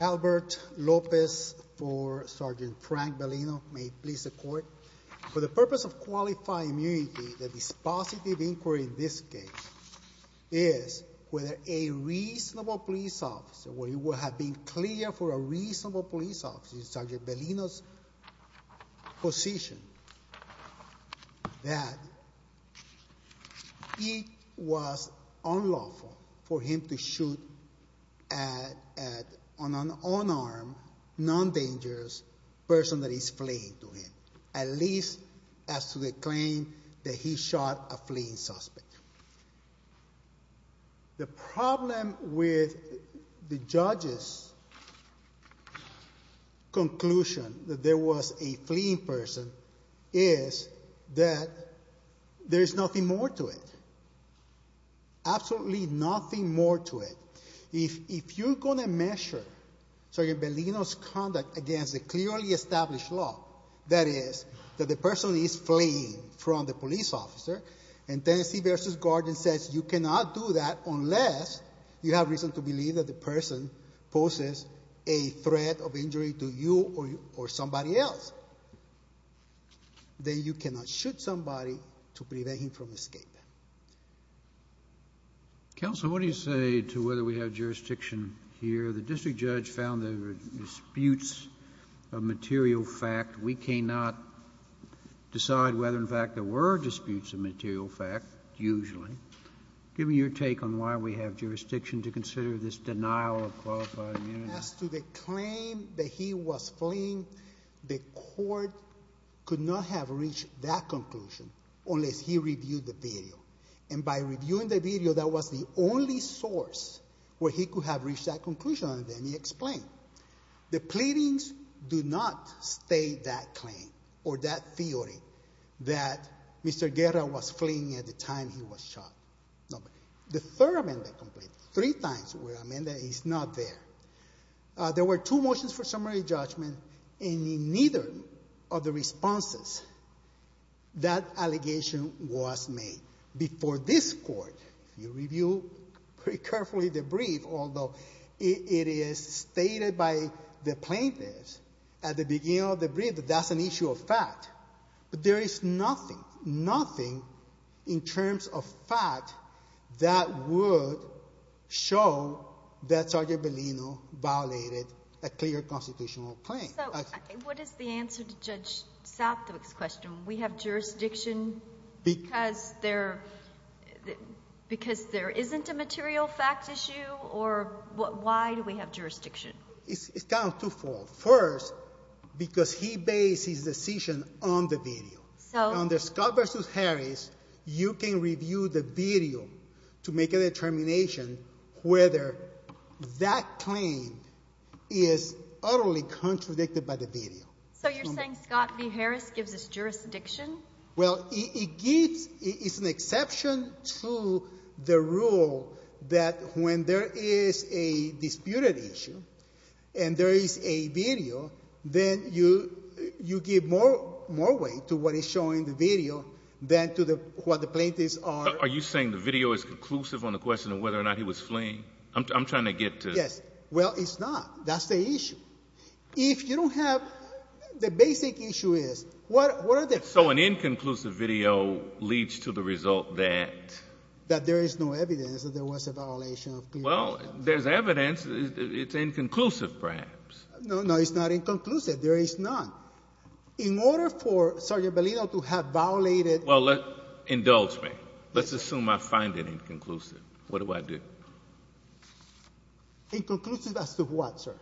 Albert Lopez for Sgt. Frank Bellino. May it please the court. For the purpose of qualifying immunity, the dispositive inquiry in this case is whether a reasonable police officer, clear for a reasonable police officer, Sgt. Bellino's position that it was unlawful for him to shoot at an unarmed, non-dangerous person that is fleeing to him, at least as to the claim that he shot a fleeing suspect. The problem with the judge's conclusion that there was a fleeing person is that there is nothing more to it. Absolutely nothing more to it. If you're going to measure Sgt. Bellino's conduct against a clearly established law, that is, that the person is fleeing from the police officer, and Tennessee v. Guardian says you cannot do that unless you have reason to believe that the person poses a threat of injury to you or somebody else, then you cannot shoot somebody to prevent him from escaping. Counsel, what do you say to whether we have jurisdiction here? The district judge found there were disputes of material fact. We cannot decide whether, in fact, there were disputes of material fact, usually. Give me your take on why we have jurisdiction to consider this denial of qualified immunity. As to the claim that he was fleeing, the court could not have reached that conclusion unless he reviewed the video. And by reviewing the video, that was the only source where he could have reached that conclusion, and then he explained. The pleadings do not state that claim or that theory that Mr. Guerra was fleeing at the time he was shot. The third amendment, three times where the amendment is not there. There were two motions for summary judgment, and in neither of the responses, that allegation was made. Before this court, you review pretty carefully the brief, although it is stated by the plaintiffs at the beginning of the brief that that's an issue of fact. But there is nothing, nothing in terms of fact that would show that Sergeant Bellino violated a clear constitutional claim. So what is the answer to Judge Southwick's question? We have jurisdiction because there isn't a material fact issue, or why do we have jurisdiction? It's kind of twofold. First, because he based his decision on the video. So under Scott v. Harris, you can review the video to make a determination whether that claim is utterly false. Well, it gives — it's an exception to the rule that when there is a disputed issue and there is a video, then you give more weight to what is shown in the video than to what the plaintiffs are — Are you saying the video is conclusive on the question of whether or not he was fleeing? I'm trying to get to — Yes. Well, it's not. That's the issue. If you don't have — the basic issue is, what are the — So an inconclusive video leads to the result that — That there is no evidence that there was a violation of clear constitutional — Well, there's evidence. It's inconclusive, perhaps. No, no. It's not inconclusive. There is none. In order for Sergeant Bellino to have violated — Well, indulge me. Let's assume I find it inconclusive. What do I do? Inconclusive as to what, sir?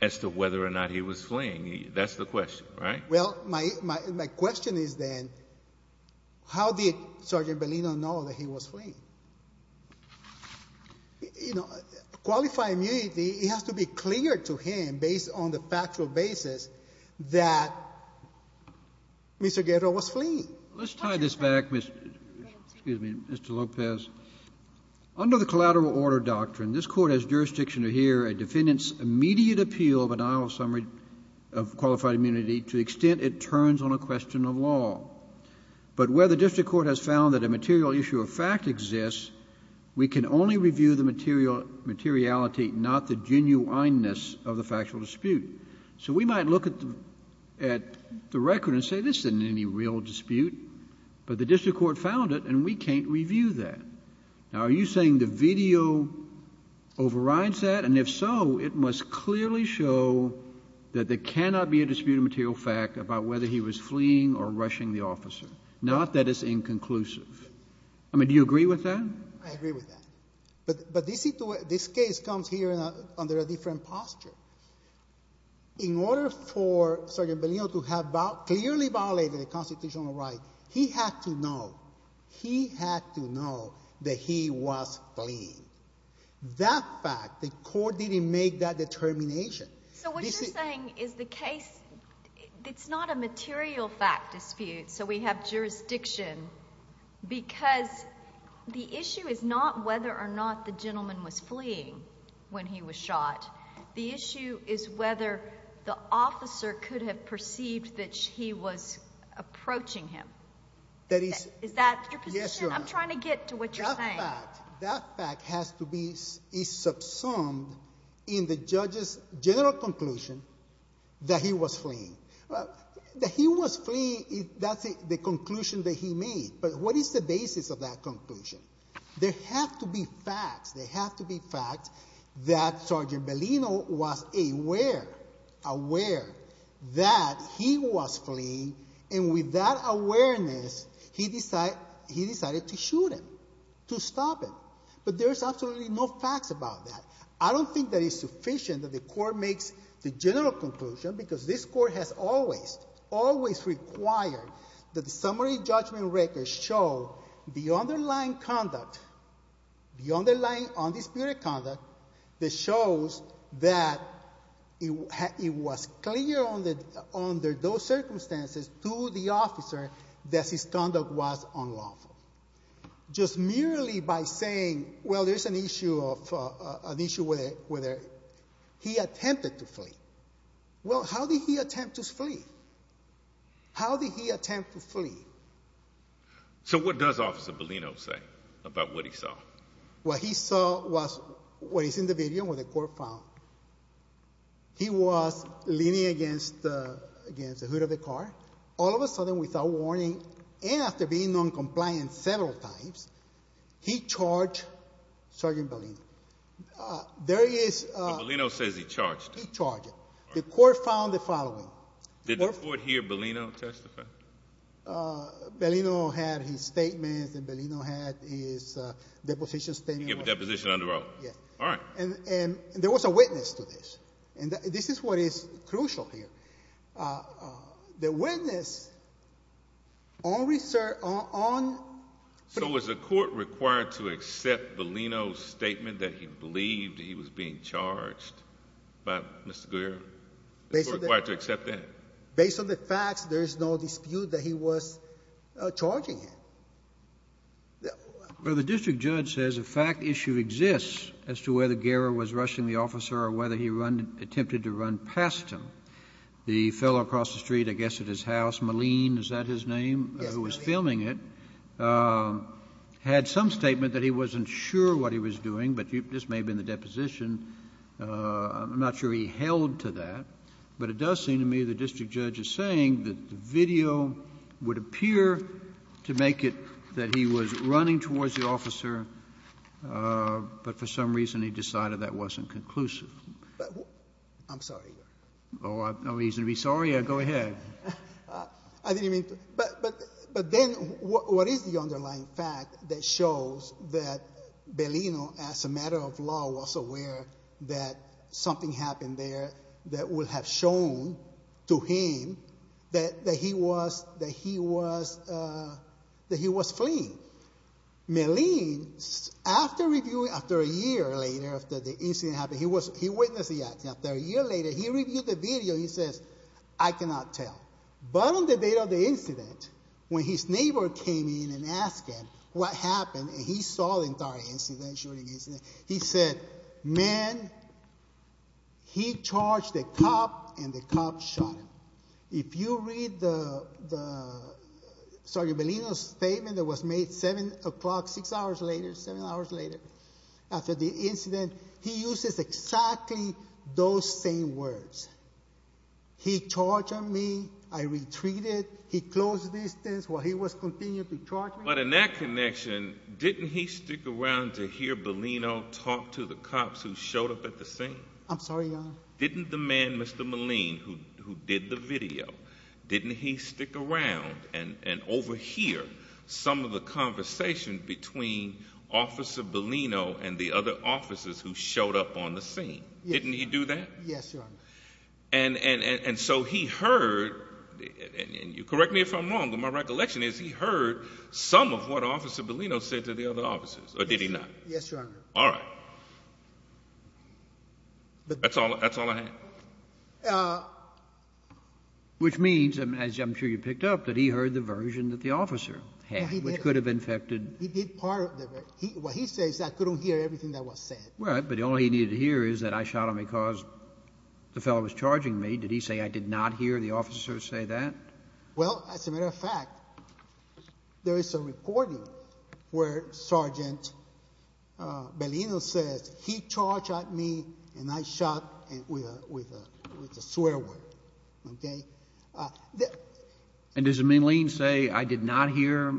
As to whether or not he was fleeing. That's the question, right? Well, my question is then, how did Sergeant Bellino know that he was fleeing? You know, qualified immunity, it has to be clear to him, based on the factual basis, that Mr. Guerrero was fleeing. Let's tie this back, Mr. — excuse me, Mr. Lopez. Under the collateral order doctrine, this Court has jurisdiction to hear a defendant's immediate appeal of an idle summary of qualified immunity, and to the extent it turns on a question of law. But where the district court has found that a material issue of fact exists, we can only review the material — materiality, not the genuineness of the factual dispute. So we might look at the record and say, this isn't any real dispute, but the district court found it, and we can't review that. Now, are you saying the video overrides that? And if so, it must clearly show that there cannot be a dispute of material fact about whether he was fleeing or rushing the officer, not that it's inconclusive. I mean, do you agree with that? I agree with that. But this case comes here under a different posture. In order for Sergeant Bellino to have clearly violated a constitutional right, he had to know — he had to know that he was fleeing. That fact, the Court didn't make that determination. So what you're saying is the case — it's not a material fact dispute, so we have jurisdiction, because the issue is not whether or not the gentleman was fleeing when he was shot. The issue is whether the officer could have perceived that he was approaching him. That is — Is that your position? Yes, Your Honor. I'm trying to get to what you're saying. That fact — that fact has to be — is subsumed in the judge's general conclusion that he was fleeing. That he was fleeing, that's the conclusion that he made. But what is the basis of that conclusion? There have to be facts. There have to be facts that Sergeant Bellino was aware — aware that he was fleeing, and with that awareness, he decided — he decided to shoot him, to stop him. But there is absolutely no facts about that. I don't think that it's sufficient that the Court makes the general conclusion, because this Court has always, always required that the summary judgment record show the underlying conduct, the underlying undisputed conduct that shows that it was clear on the — under those circumstances to the officer that his conduct was unlawful. Just merely by saying, well, there's an issue of — an issue with a — with a — he attempted to flee. Well, how did he attempt to flee? How did he attempt to flee? So what does Officer Bellino say about what he saw? What he saw was — what is in the video, what the Court found. He was leaning against — against the hood of the car. All of a sudden, without warning, and after being noncompliant several times, he charged Sergeant Bellino. There is — But Bellino says he charged him. He charged him. The Court found the following. Did the Court hear Bellino testify? Bellino had his statement, and Bellino had his deposition statement. Yes. All right. And there was a witness to this. And this is what is crucial here. The witness on — So was the Court required to accept Bellino's statement that he believed he was being charged by Mr. Guerra? Was the Court required to accept that? Based on the facts, there is no dispute that he was charging him. Well, the district judge says a fact issue exists as to whether Guerra was rushing the officer or whether he run — attempted to run past him. The fellow across the street, I guess at his house, Malene, is that his name? Yes, Malene. Who was filming it, had some statement that he wasn't sure what he was doing, but this may have been the deposition. I'm not sure he held to that, but it does seem to me the district judge is saying that the video would appear to make it that he was running towards the officer, but for some reason he decided that wasn't conclusive. I'm sorry. Oh, no reason to be sorry. Go ahead. I didn't mean to. But then what is the underlying fact that shows that Bellino, as a matter of law, was aware that something happened there that would have shown to him that he was fleeing? Malene, after reviewing — after a year later, after the incident happened, he witnessed the accident. After a year later, he reviewed the video. He says, I cannot tell. But on the day of the incident, when his neighbor came in and asked him what happened, and he saw the entire incident, shooting incident, he said, man, he charged the cop and the cop shot him. If you read the — sorry, Bellino's statement that was made 7 o'clock, 6 hours later, 7 hours later, after the incident, he uses exactly those same words. He charged on me. I retreated. He closed the distance while he was continuing to charge me. But in that connection, didn't he stick around to hear Bellino talk to the cops who showed up at the scene? I'm sorry, Your Honor. Didn't the man, Mr. Malene, who did the video, didn't he stick around and overhear some of the conversation between Officer Bellino and the other officers who showed up on the scene? Yes. Didn't he do that? Yes, Your Honor. And so he heard — and you correct me if I'm wrong, but my recollection is he heard some of what Officer Bellino said to the other officers, or did he not? Yes, Your Honor. All right. That's all I have. Which means, as I'm sure you picked up, that he heard the version that the officer had, which could have infected — He did part of the — what he says, I couldn't hear everything that was said. Right, but all he needed to hear is that I shot him because the fellow was charging me. Did he say, I did not hear the officer say that? Well, as a matter of fact, there is a recording where Sergeant Bellino says, he charged at me and I shot with a swear word. Okay? And does Malene say, I did not hear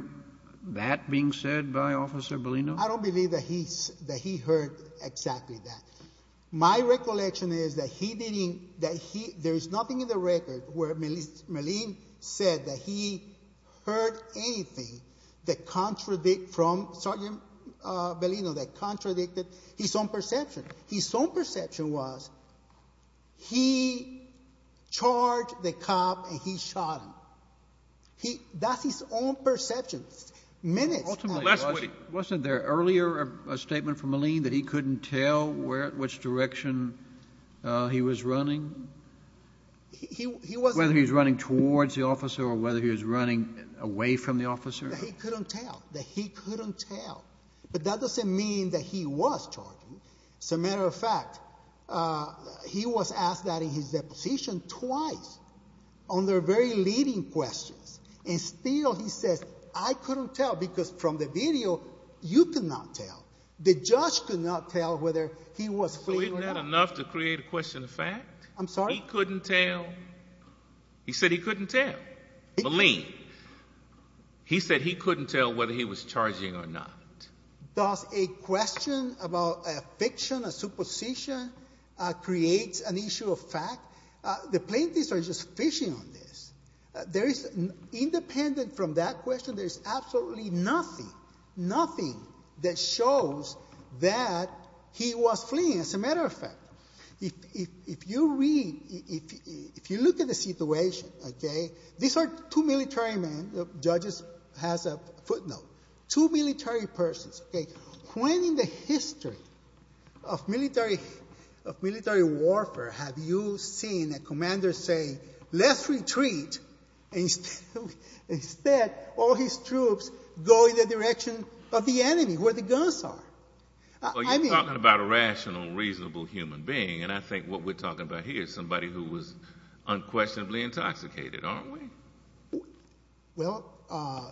that being said by Officer Bellino? I don't believe that he heard exactly that. My recollection is that he didn't — that there is nothing in the record where Malene said that he heard anything that contradict from Sergeant Bellino, that contradicted his own perception. His own perception was he charged the cop and he shot him. That's his own perception. Ultimately, wasn't there earlier a statement from Malene that he couldn't tell which direction he was running? He wasn't — Whether he was running towards the officer or whether he was running away from the officer? That he couldn't tell. That he couldn't tell. But that doesn't mean that he was charging. As a matter of fact, he was asked that in his deposition twice on their very leading questions. And still he says, I couldn't tell because from the video, you could not tell. The judge could not tell whether he was fleeing or not. So isn't that enough to create a question of fact? I'm sorry? He couldn't tell. He said he couldn't tell. Malene. He said he couldn't tell whether he was charging or not. Does a question about a fiction, a supposition, create an issue of fact? The plaintiffs are just fishing on this. There is — independent from that question, there is absolutely nothing, nothing that shows that he was fleeing. As a matter of fact, if you read — if you look at the situation, okay, these are two military men. The judge has a footnote. Two military persons. When in the history of military warfare have you seen a commander say, let's retreat, and instead all his troops go in the direction of the enemy where the guns are? Well, you're talking about a rational, reasonable human being. And I think what we're talking about here is somebody who was unquestionably intoxicated, aren't we? Well,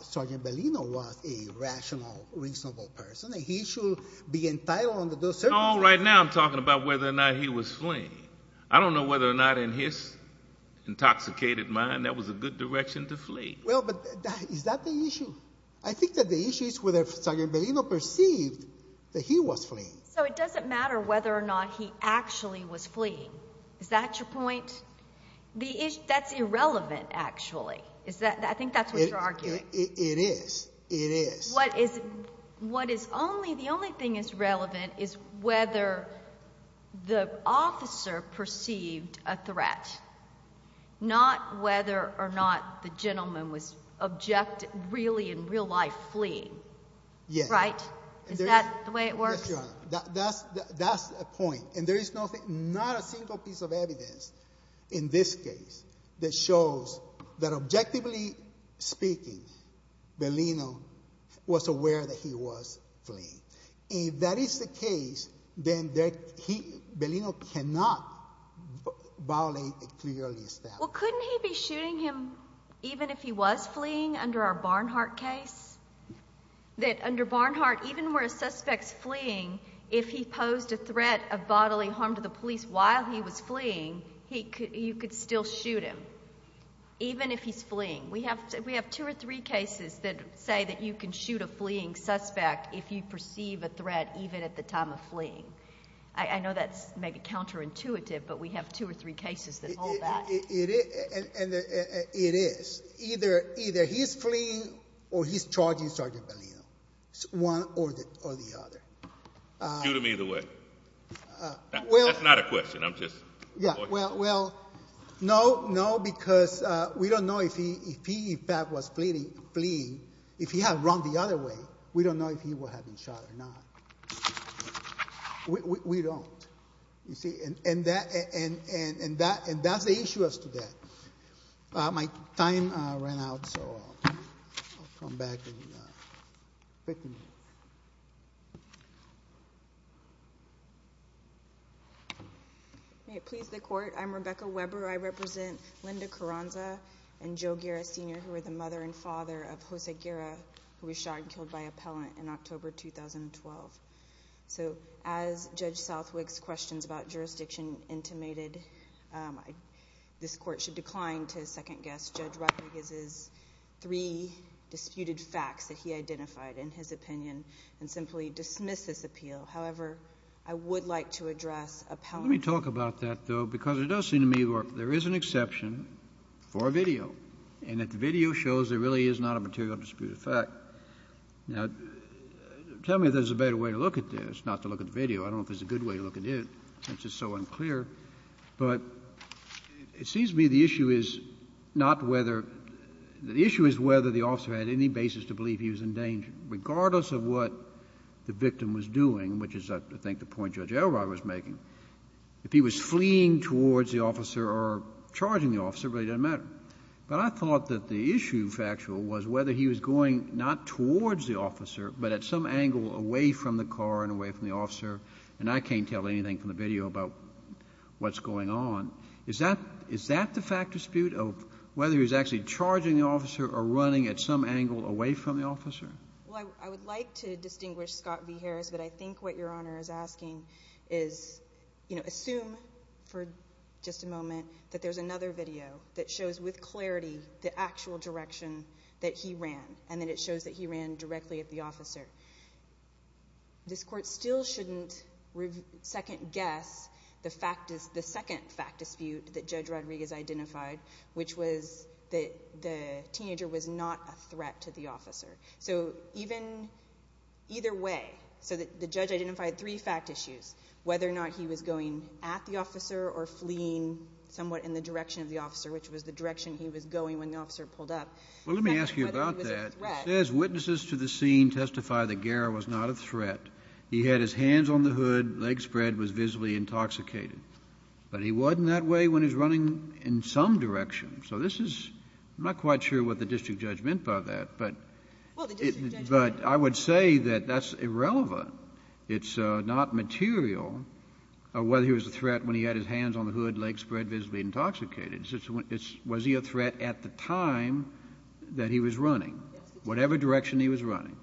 Sergeant Bellino was a rational, reasonable person, and he should be entitled under those circumstances. No, right now I'm talking about whether or not he was fleeing. I don't know whether or not in his intoxicated mind that was a good direction to flee. Well, but is that the issue? I think that the issue is whether Sergeant Bellino perceived that he was fleeing. So it doesn't matter whether or not he actually was fleeing. Is that your point? That's irrelevant, actually. I think that's what you're arguing. It is. It is. The only thing that's relevant is whether the officer perceived a threat, not whether or not the gentleman was really in real life fleeing. Yes. Right? Is that the way it works? Yes, Your Honor. That's the point. And there is not a single piece of evidence in this case that shows that objectively speaking, Bellino was aware that he was fleeing. If that is the case, then Bellino cannot violate a clear lease statute. Well, couldn't he be shooting him even if he was fleeing under our Barnhart case? That under Barnhart, even where a suspect's fleeing, if he posed a threat of bodily harm to the police while he was fleeing, you could still shoot him. Even if he's fleeing. We have two or three cases that say that you can shoot a fleeing suspect if you perceive a threat even at the time of fleeing. I know that's maybe counterintuitive, but we have two or three cases that hold that. It is. Either he's fleeing or he's charging Sergeant Bellino, one or the other. Shoot him either way. That's not a question. I'm just avoiding it. Well, no, because we don't know if he in fact was fleeing. If he had run the other way, we don't know if he would have been shot or not. We don't. And that's the issue as to that. My time ran out, so I'll come back. May it please the Court. I'm Rebecca Weber. I represent Linda Carranza and Joe Guerra, Sr., who were the mother and father of Jose Guerra, who was shot and killed by appellant in October 2012. So as Judge Southwick's questions about jurisdiction intimated, this Court should decline to second-guess Judge Rutledge's three disputed facts that he identified in his opinion and simply dismiss this appeal. However, I would like to address appellant. Let me talk about that, though, because it does seem to me that there is an exception for a video and that the video shows there really is not a material disputed fact. Now, tell me if there's a better way to look at this, not to look at the video. I don't know if there's a good way to look at it. It's just so unclear. But it seems to me the issue is not whether — the issue is whether the officer had any basis to believe he was in danger, regardless of what the victim was doing, which is, I think, the point Judge Elrod was making. If he was fleeing towards the officer or charging the officer, it really doesn't matter. But I thought that the issue, factual, was whether he was going not towards the officer but at some angle away from the car and away from the officer. And I can't tell anything from the video about what's going on. Is that the fact dispute of whether he was actually charging the officer or running at some angle away from the officer? Well, I would like to distinguish Scott v. Harris, but I think what Your Honor is asking is, you know, assume for just a moment that there's another video that shows with clarity the actual direction that he ran and that it shows that he ran directly at the officer. This Court still shouldn't second-guess the second fact dispute that Judge Rodriguez identified, which was that the teenager was not a threat to the officer. So even — either way, so the judge identified three fact issues, whether or not he was going at the officer or fleeing somewhat in the direction of the officer, which was the direction he was going when the officer pulled up. Well, let me ask you about that. It says witnesses to the scene testify that Guerra was not a threat. He had his hands on the hood, leg spread, was visibly intoxicated. But he wasn't that way when he was running in some direction. So this is — I'm not quite sure what the district judge meant by that, but — Well, the district judge — But I would say that that's irrelevant. It's not material whether he was a threat when he had his hands on the hood, leg spread, visibly intoxicated. Was he a threat at the time that he was running, whatever direction he was running?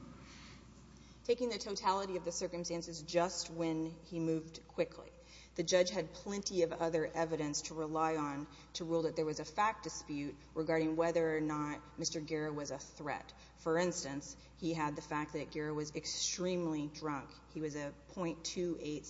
Taking the totality of the circumstances just when he moved quickly. The judge had plenty of other evidence to rely on to rule that there was a fact dispute regarding whether or not Mr. Guerra was a threat. For instance, he had the fact that Guerra was extremely drunk. He was a .286.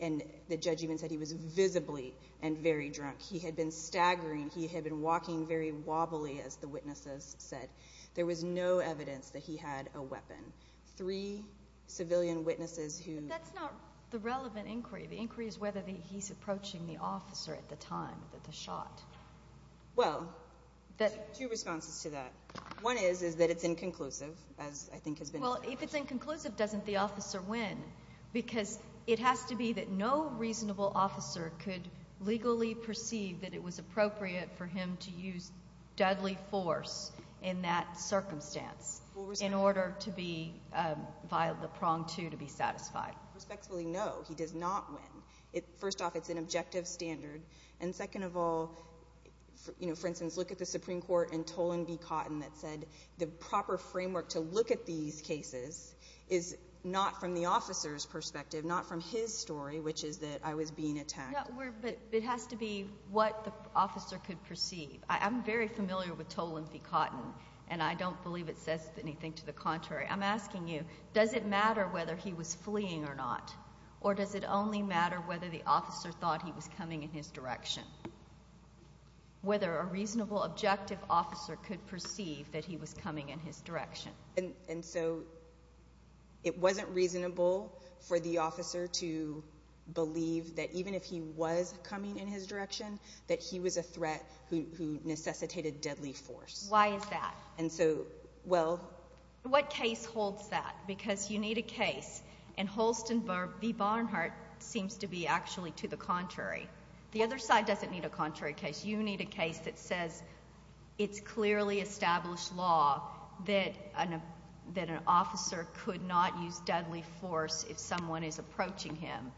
And the judge even said he was visibly and very drunk. He had been staggering. He had been walking very wobbly, as the witnesses said. There was no evidence that he had a weapon. Three civilian witnesses who — But that's not the relevant inquiry. The inquiry is whether he's approaching the officer at the time that the shot — Well, two responses to that. One is that it's inconclusive, as I think has been said. Well, if it's inconclusive, doesn't the officer win? Because it has to be that no reasonable officer could legally perceive that it was appropriate for him to use deadly force in that circumstance in order to be via the prong two to be satisfied. Respectfully, no. He does not win. First off, it's an objective standard. And second of all, for instance, look at the Supreme Court in Tolan v. Cotton that said the proper framework to look at these cases is not from the officer's perspective, not from his story, which is that I was being attacked. But it has to be what the officer could perceive. I'm very familiar with Tolan v. Cotton, and I don't believe it says anything to the contrary. I'm asking you, does it matter whether he was fleeing or not? Or does it only matter whether the officer thought he was coming in his direction, whether a reasonable objective officer could perceive that he was coming in his direction? And so it wasn't reasonable for the officer to believe that even if he was coming in his direction, that he was a threat who necessitated deadly force. Why is that? And so, well. What case holds that? Because you need a case, and Holsten v. Barnhart seems to be actually to the contrary. The other side doesn't need a contrary case. You need a case that says it's clearly established law that an officer could not use deadly force if someone is approaching him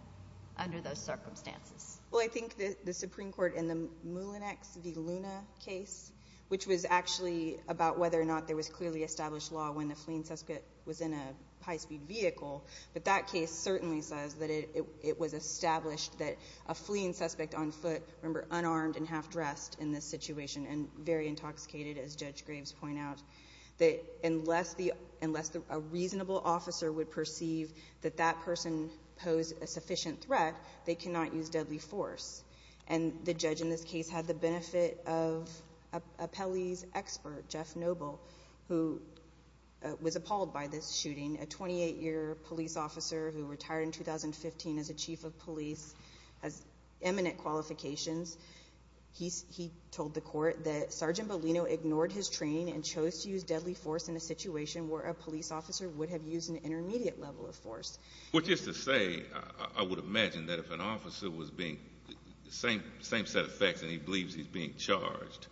under those circumstances. Well, I think the Supreme Court in the Mullinex v. Luna case, which was actually about whether or not there was clearly established law when the fleeing suspect was in a high-speed vehicle, but that case certainly says that it was established that a fleeing suspect on foot, remember unarmed and half-dressed in this situation and very intoxicated, as Judge Graves pointed out, that unless a reasonable officer would perceive that that person posed a sufficient threat, they cannot use deadly force. And the judge in this case had the benefit of a Pelley's expert, Jeff Noble, who was appalled by this shooting, a 28-year police officer who retired in 2015 as a chief of police, has eminent qualifications. He told the court that Sergeant Bellino ignored his training and chose to use deadly force in a situation where a police officer would have used an intermediate level of force. Which is to say, I would imagine that if an officer was being the same set of facts and he believes he's being charged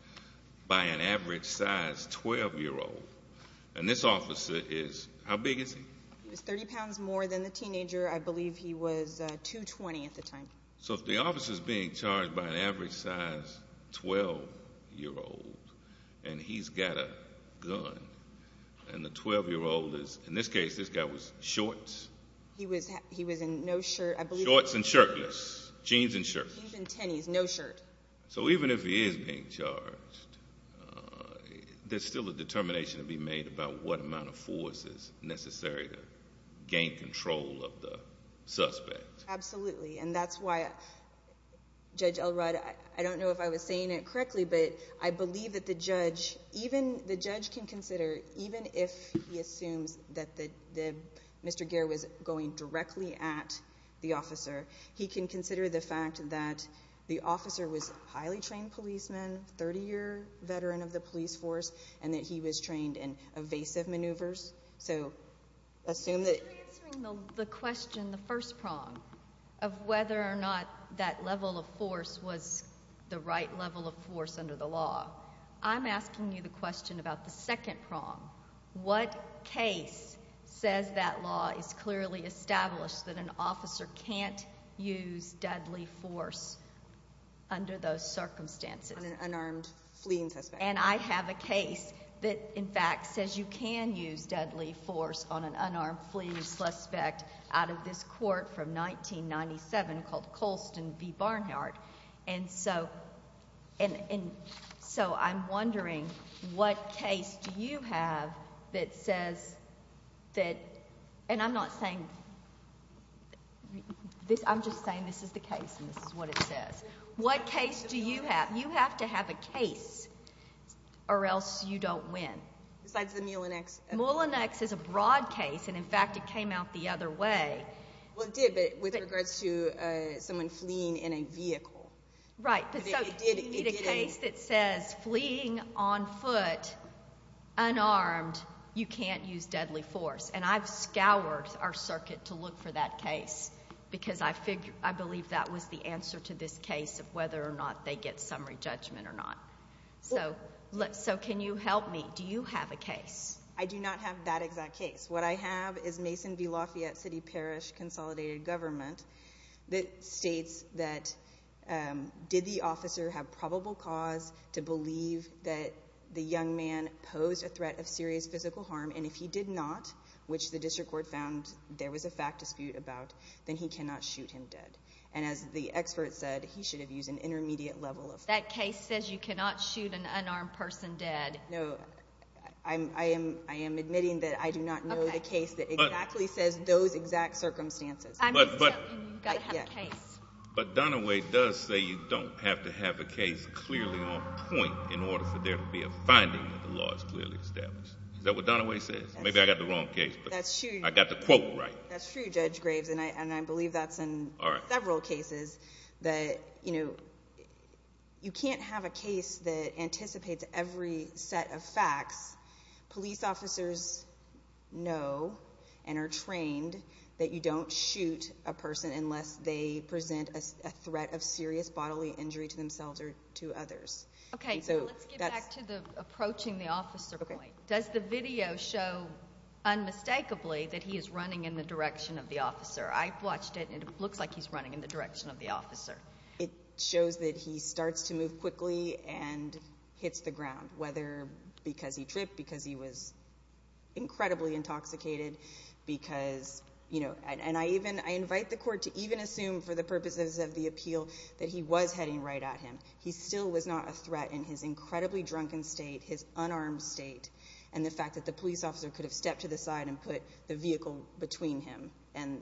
by an average-sized 12-year-old, and this officer is how big is he? He was 30 pounds more than the teenager. I believe he was 220 at the time. So if the officer is being charged by an average-sized 12-year-old and he's got a gun and the 12-year-old is, in this case, this guy was shorts. He was in no shirt. Shorts and shirtless, jeans and shirtless. He's in tennis, no shirt. So even if he is being charged, there's still a determination to be made about what amount of force is necessary to gain control of the suspect. Absolutely, and that's why Judge Elrod, I don't know if I was saying it correctly, but I believe that the judge can consider, even if he assumes that Mr. Geer was going directly at the officer, he can consider the fact that the officer was a highly trained policeman, 30-year veteran of the police force, and that he was trained in evasive maneuvers. In answering the question, the first prong, of whether or not that level of force was the right level of force under the law, I'm asking you the question about the second prong. What case says that law is clearly established that an officer can't use deadly force under those circumstances? An unarmed fleeing suspect. And I have a case that, in fact, says you can use deadly force on an unarmed fleeing suspect out of this court from 1997 called Colston v. Barnhart. And so I'm wondering what case do you have that says that—and I'm not saying—I'm just saying this is the case and this is what it says. What case do you have? You have to have a case or else you don't win. Besides the Mullinex? Mullinex is a broad case, and, in fact, it came out the other way. Well, it did, but with regards to someone fleeing in a vehicle. Right. It did. So you need a case that says fleeing on foot, unarmed, you can't use deadly force. And I've scoured our circuit to look for that case because I believe that was the answer to this case of whether or not they get summary judgment or not. So can you help me? Do you have a case? I do not have that exact case. What I have is Mason v. Lafayette City Parish Consolidated Government that states that, did the officer have probable cause to believe that the young man posed a threat of serious physical harm? And if he did not, which the district court found there was a fact dispute about, then he cannot shoot him dead. And as the expert said, he should have used an intermediate level of force. That case says you cannot shoot an unarmed person dead. No. I am admitting that I do not know the case that exactly says those exact circumstances. I'm just telling you, you've got to have a case. But Dunaway does say you don't have to have a case clearly on point in order for there to be a finding that the law is clearly established. Is that what Dunaway says? Maybe I've got the wrong case. That's true. I've got the quote right. That's true, Judge Graves, and I believe that's in several cases that, you know, you can't have a case that anticipates every set of facts. Police officers know and are trained that you don't shoot a person unless they present a threat of serious bodily injury to themselves or to others. Okay. So let's get back to the approaching the officer point. Does the video show unmistakably that he is running in the direction of the officer? I've watched it, and it looks like he's running in the direction of the officer. It shows that he starts to move quickly and hits the ground, whether because he tripped, because he was incredibly intoxicated, because, you know, and I invite the court to even assume for the purposes of the appeal that he was heading right at him. He still was not a threat in his incredibly drunken state, his unarmed state, and the fact that the police officer could have stepped to the side and put the vehicle between him and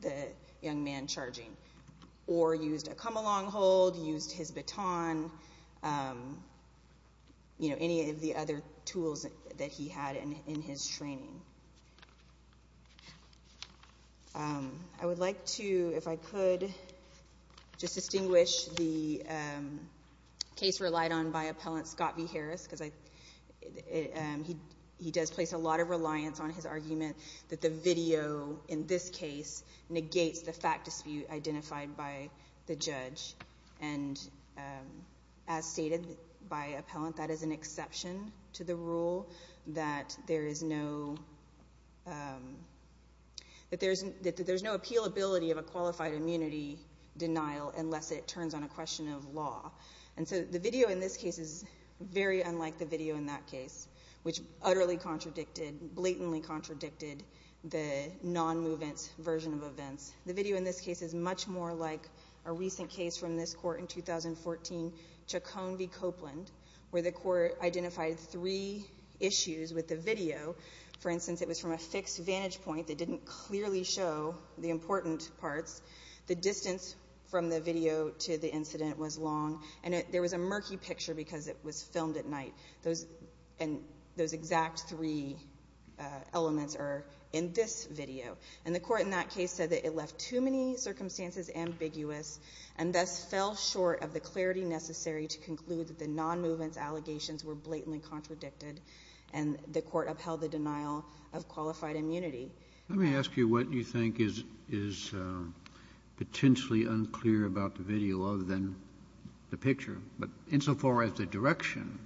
the young man charging or used a come-along hold, used his baton, you know, any of the other tools that he had in his training. So I would like to, if I could, just distinguish the case relied on by appellant Scott v. Harris, because he does place a lot of reliance on his argument that the video in this case negates the fact dispute identified by the judge. And as stated by appellant, that is an exception to the rule that there is no appealability of a qualified immunity denial unless it turns on a question of law. And so the video in this case is very unlike the video in that case, which utterly contradicted, blatantly contradicted the non-movement version of events. The video in this case is much more like a recent case from this court in 2014, Chacon v. Copeland, where the court identified three issues with the video. For instance, it was from a fixed vantage point that didn't clearly show the important parts. The distance from the video to the incident was long, and there was a murky picture because it was filmed at night. And those exact three elements are in this video. And the court in that case said that it left too many circumstances ambiguous and thus fell short of the clarity necessary to conclude that the non-movement allegations were blatantly contradicted, and the court upheld the denial of qualified immunity. Let me ask you what you think is potentially unclear about the video other than the picture. But insofar as the direction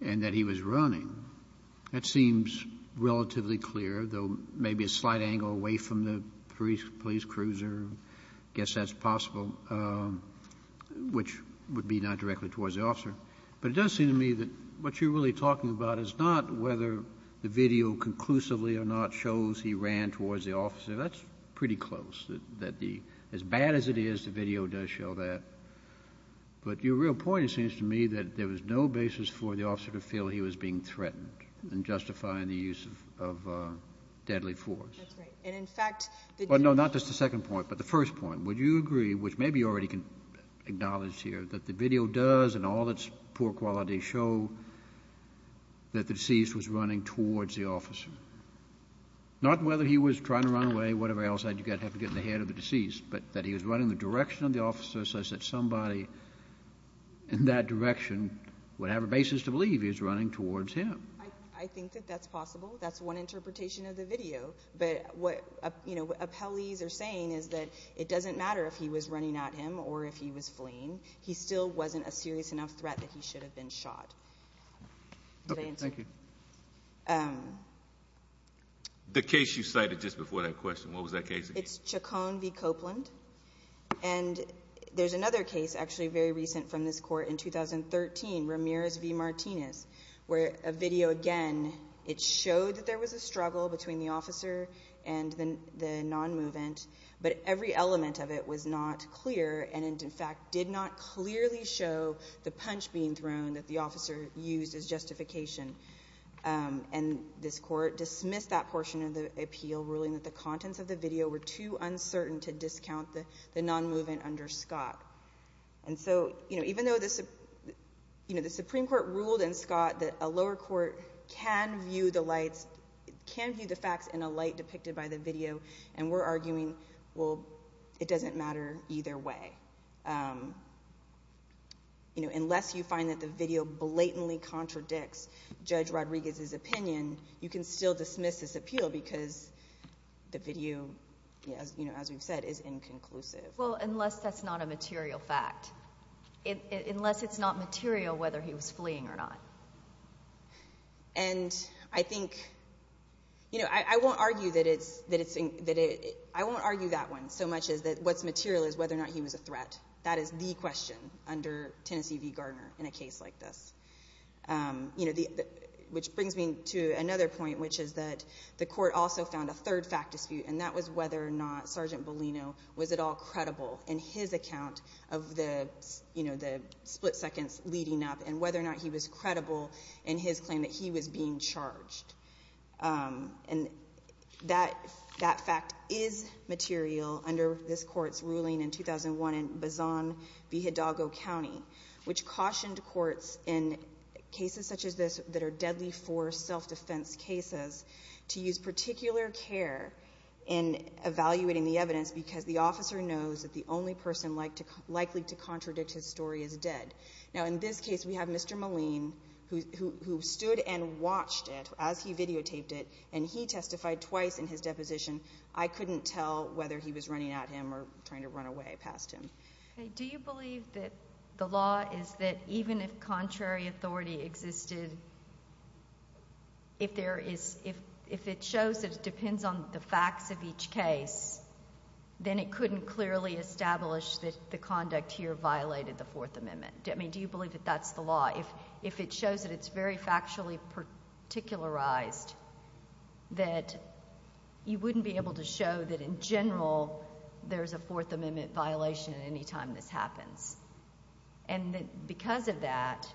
in that he was running, that seems relatively clear, though maybe a slight angle away from the police cruiser. I guess that's possible, which would be not directly towards the officer. But it does seem to me that what you're really talking about is not whether the video conclusively or not shows he ran towards the officer. That's pretty close, that the as bad as it is, the video does show that. But your real point, it seems to me, that there was no basis for the officer to feel he was being threatened in justifying the use of deadly force. That's right. And, in fact, the— Well, no, not just the second point, but the first point. Would you agree, which maybe you already can acknowledge here, that the video does, in all its poor quality, show that the deceased was running towards the officer? Not whether he was trying to run away, whatever else, I'd have to get in the head of the deceased, but that he was running in the direction of the officer such that somebody in that direction would have a basis to believe he was running towards him. I think that that's possible. That's one interpretation of the video. But what appellees are saying is that it doesn't matter if he was running at him or if he was fleeing. He still wasn't a serious enough threat that he should have been shot. Okay, thank you. The case you cited just before that question, what was that case again? It's Chacon v. Copeland. And there's another case actually very recent from this court in 2013, Ramirez v. Martinez, where a video again, it showed that there was a struggle between the officer and the nonmovement, but every element of it was not clear and, in fact, did not clearly show the punch being thrown that the officer used as justification. And this court dismissed that portion of the appeal, ruling that the contents of the video were too uncertain to discount the nonmovement under Scott. And so even though the Supreme Court ruled in Scott that a lower court can view the facts in a light depicted by the video, and we're arguing, well, it doesn't matter either way. Unless you find that the video blatantly contradicts Judge Rodriguez's opinion, you can still dismiss this appeal because the video, as we've said, is inconclusive. Well, unless that's not a material fact. Unless it's not material whether he was fleeing or not. And I think, you know, I won't argue that it's, I won't argue that one so much as what's material is whether or not he was a threat. That is the question under Tennessee v. Gardner in a case like this. You know, which brings me to another point, which is that the court also found a third fact dispute, and that was whether or not Sergeant Bellino was at all credible in his account of the, you know, the split seconds leading up and whether or not he was credible in his claim that he was being charged. And that fact is material under this court's ruling in 2001 in Bazan v. Hidalgo County, which cautioned courts in cases such as this that are deadly for self-defense cases to use particular care in evaluating the evidence because the officer knows that the only person likely to contradict his story is dead. Now, in this case, we have Mr. Moline, who stood and watched it as he videotaped it, and he testified twice in his deposition. I couldn't tell whether he was running at him or trying to run away past him. Okay. Do you believe that the law is that even if contrary authority existed, if there is, if it shows that it depends on the facts of each case, then it couldn't clearly establish that the conduct here violated the Fourth Amendment. I mean, do you believe that that's the law? If it shows that it's very factually particularized, that you wouldn't be able to show that in general there's a Fourth Amendment violation at any time this happens, and that because of that,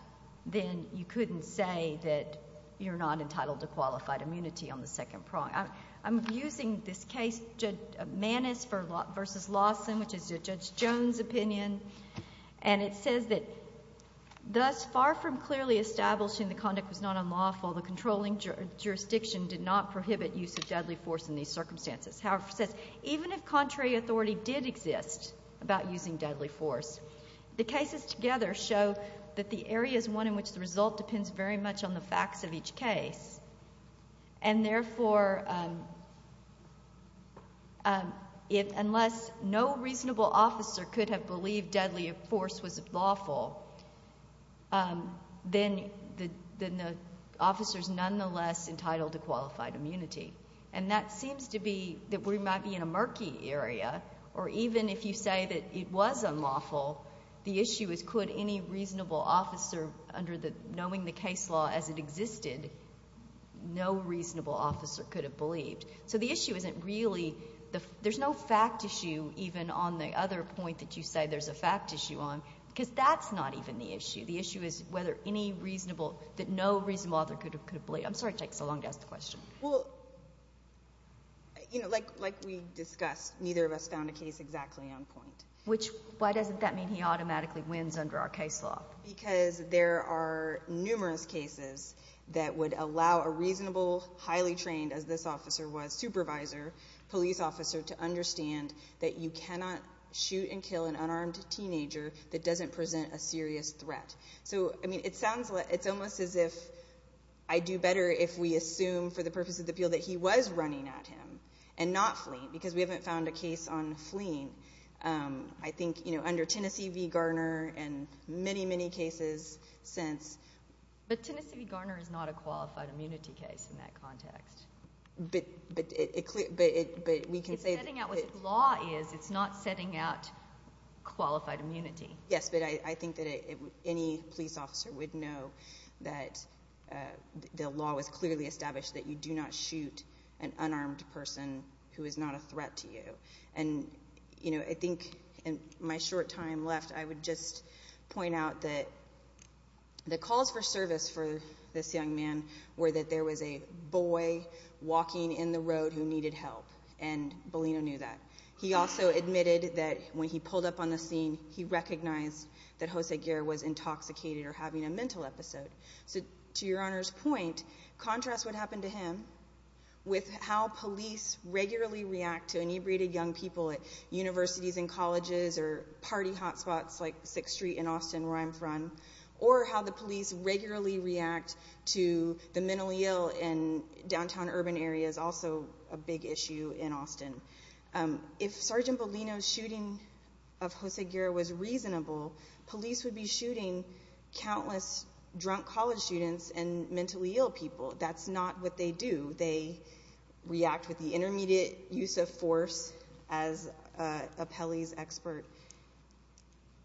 then you couldn't say that you're not entitled to qualified immunity on the second prong. I'm using this case, Judge Manis v. Lawson, which is Judge Jones' opinion, and it says that thus far from clearly establishing the conduct was not unlawful, the controlling jurisdiction did not prohibit use of deadly force in these circumstances. However, it says even if contrary authority did exist about using deadly force, the cases together show that the area is one in which the result depends very much on the facts of each case, and therefore unless no reasonable officer could have believed deadly force was lawful, then the officer is nonetheless entitled to qualified immunity. And that seems to be that we might be in a murky area, or even if you say that it was unlawful, the issue is could any reasonable officer under the knowing the case law as it existed, no reasonable officer could have believed. So the issue isn't really there's no fact issue even on the other point that you say there's a fact issue on, because that's not even the issue. The issue is whether any reasonable that no reasonable author could have believed. I'm sorry it takes so long to ask the question. Well, you know, like we discussed, neither of us found a case exactly on point. Why doesn't that mean he automatically wins under our case law? Because there are numerous cases that would allow a reasonable, highly trained, as this officer was, supervisor, police officer, to understand that you cannot shoot and kill an unarmed teenager that doesn't present a serious threat. So, I mean, it's almost as if I'd do better if we assume for the purpose of the appeal that he was running at him and not fleeing, because we haven't found a case on fleeing. I think, you know, under Tennessee v. Garner and many, many cases since. But Tennessee v. Garner is not a qualified immunity case in that context. But we can say that it… It's setting out what the law is. It's not setting out qualified immunity. Yes, but I think that any police officer would know that the law was clearly established that you do not shoot an unarmed person who is not a threat to you. And, you know, I think in my short time left, I would just point out that the calls for service for this young man were that there was a boy walking in the road who needed help, and Bellino knew that. He also admitted that when he pulled up on the scene, he recognized that Jose Guerra was intoxicated or having a mental episode. So to Your Honor's point, contrast what happened to him with how police regularly react to inebriated young people at universities and colleges or party hotspots like 6th Street in Austin, where I'm from, or how the police regularly react to the mentally ill in downtown urban areas, also a big issue in Austin. If Sergeant Bellino's shooting of Jose Guerra was reasonable, police would be shooting countless drunk college students and mentally ill people. That's not what they do. They react with the intermediate use of force as a Pelley's expert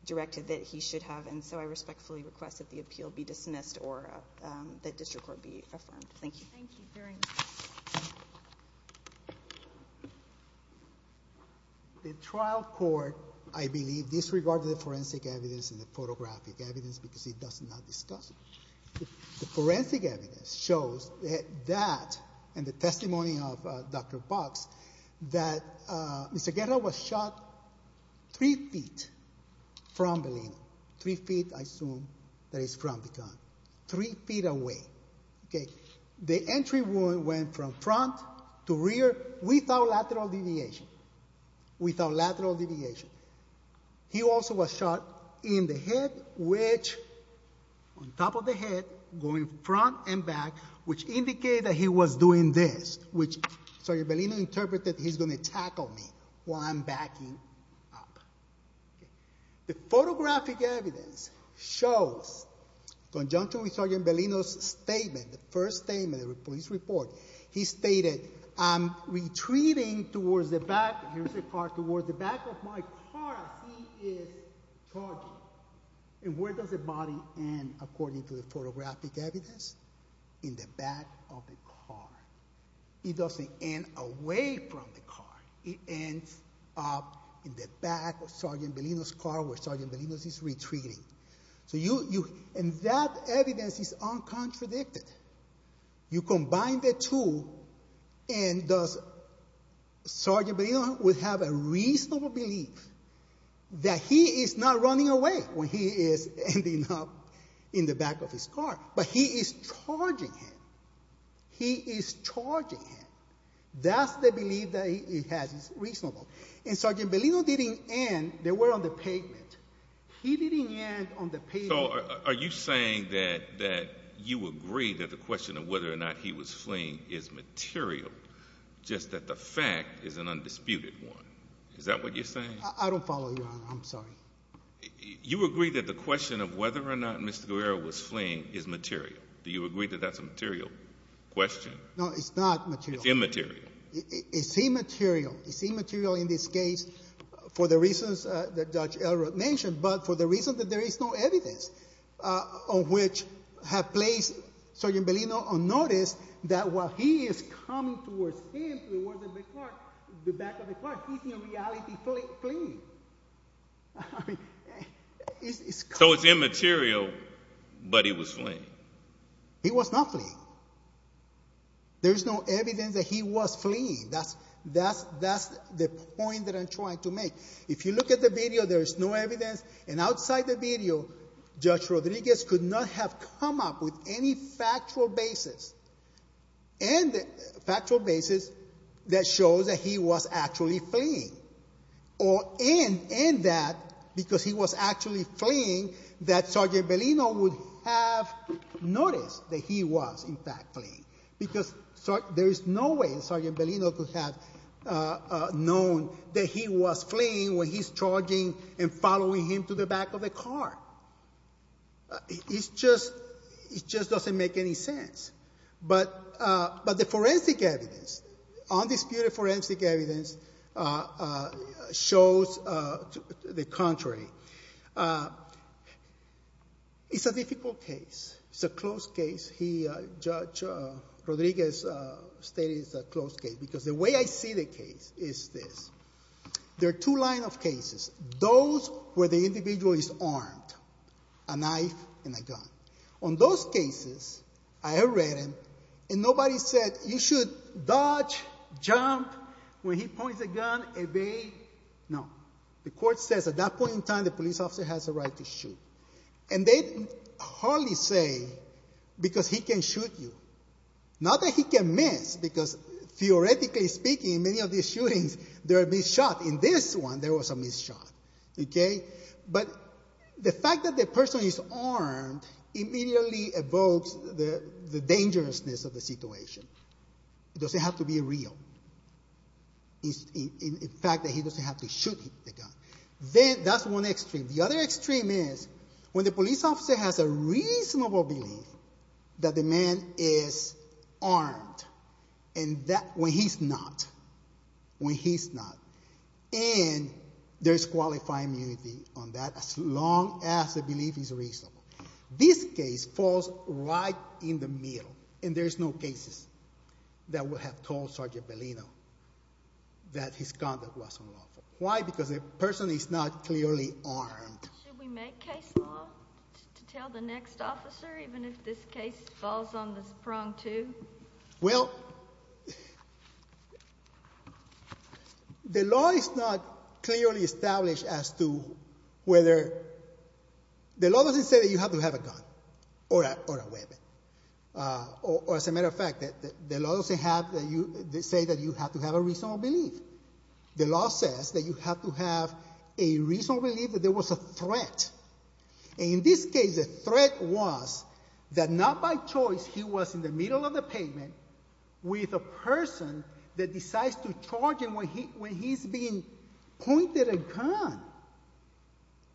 directed that he should have, and so I respectfully request that the appeal be dismissed or that district court be affirmed. Thank you. Thank you very much. The trial court, I believe, disregarded the forensic evidence and the photographic evidence because it does not discuss it. The forensic evidence shows that, and the testimony of Dr. Box, that Mr. Guerra was shot three feet from Bellino, three feet, I assume, that is from the gun, three feet away. The entry wound went from front to rear without lateral deviation, without lateral deviation. He also was shot in the head, which, on top of the head, going front and back, which indicated that he was doing this, which Sergeant Bellino interpreted, he's going to tackle me while I'm backing up. The photographic evidence shows, in conjunction with Sergeant Bellino's statement, the first statement of his report, he stated, I'm retreating towards the back of my car as he is charging. And where does the body end, according to the photographic evidence? In the back of the car. It doesn't end away from the car. It ends up in the back of Sergeant Bellino's car where Sergeant Bellino is retreating. And that evidence is uncontradicted. You combine the two, and does Sergeant Bellino have a reasonable belief that he is not running away when he is ending up in the back of his car, but he is charging him. He is charging him. That's the belief that he has. It's reasonable. And Sergeant Bellino didn't end. They were on the pavement. He didn't end on the pavement. So are you saying that you agree that the question of whether or not he was fleeing is material, just that the fact is an undisputed one? Is that what you're saying? I don't follow you, Your Honor. I'm sorry. You agree that the question of whether or not Mr. Guerrero was fleeing is material. Do you agree that that's a material question? No, it's not material. It's immaterial. It's immaterial. It's immaterial in this case for the reasons that Judge Elrod mentioned, but for the reason that there is no evidence on which have placed Sergeant Bellino on notice that while he is coming towards him towards the back of the car, he's in reality fleeing. So it's immaterial, but he was fleeing. He was not fleeing. There's no evidence that he was fleeing. That's the point that I'm trying to make. If you look at the video, there's no evidence, and outside the video, Judge Rodriguez could not have come up with any factual basis that shows that he was actually fleeing, and that because he was actually fleeing that Sergeant Bellino would have noticed that he was in fact fleeing because there is no way Sergeant Bellino could have known that he was fleeing when he's charging and following him to the back of the car. It just doesn't make any sense. But the forensic evidence, undisputed forensic evidence, shows the contrary. It's a difficult case. It's a close case. Judge Rodriguez stated it's a close case because the way I see the case is this. There are two lines of cases. Those where the individual is armed, a knife and a gun. On those cases, I have read them, and nobody said, you should dodge, jump, when he points a gun, evade. No. The court says at that point in time the police officer has a right to shoot, and they hardly say because he can shoot you. Not that he can miss because, theoretically speaking, in many of these shootings, there are missed shots. In this one, there was a missed shot. But the fact that the person is armed immediately evokes the dangerousness of the situation. It doesn't have to be real. In fact, he doesn't have to shoot the gun. That's one extreme. The other extreme is when the police officer has a reasonable belief that the man is armed, when he's not, and there's qualified immunity on that as long as the belief is reasonable. This case falls right in the middle, and there's no cases that would have told Sergeant Bellino that his conduct was unlawful. Why? Because the person is not clearly armed. Should we make case law to tell the next officer even if this case falls on the prong too? Well, the law is not clearly established as to whether the law doesn't say that you have to have a gun or a weapon. Or, as a matter of fact, the law doesn't say that you have to have a reasonable belief. The law says that you have to have a reasonable belief that there was a threat. And in this case, the threat was that not by choice he was in the middle of the pavement with a person that decides to charge him when he's being pointed a gun.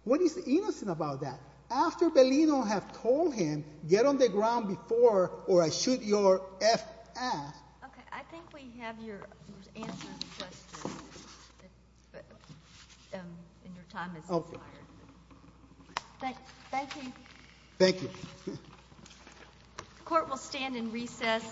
What is innocent about that? After Bellino had told him, get on the ground before or I shoot your F ass. Okay, I think we have your answer to the question. And your time has expired. Thank you. Thank you. The court will stand in recess.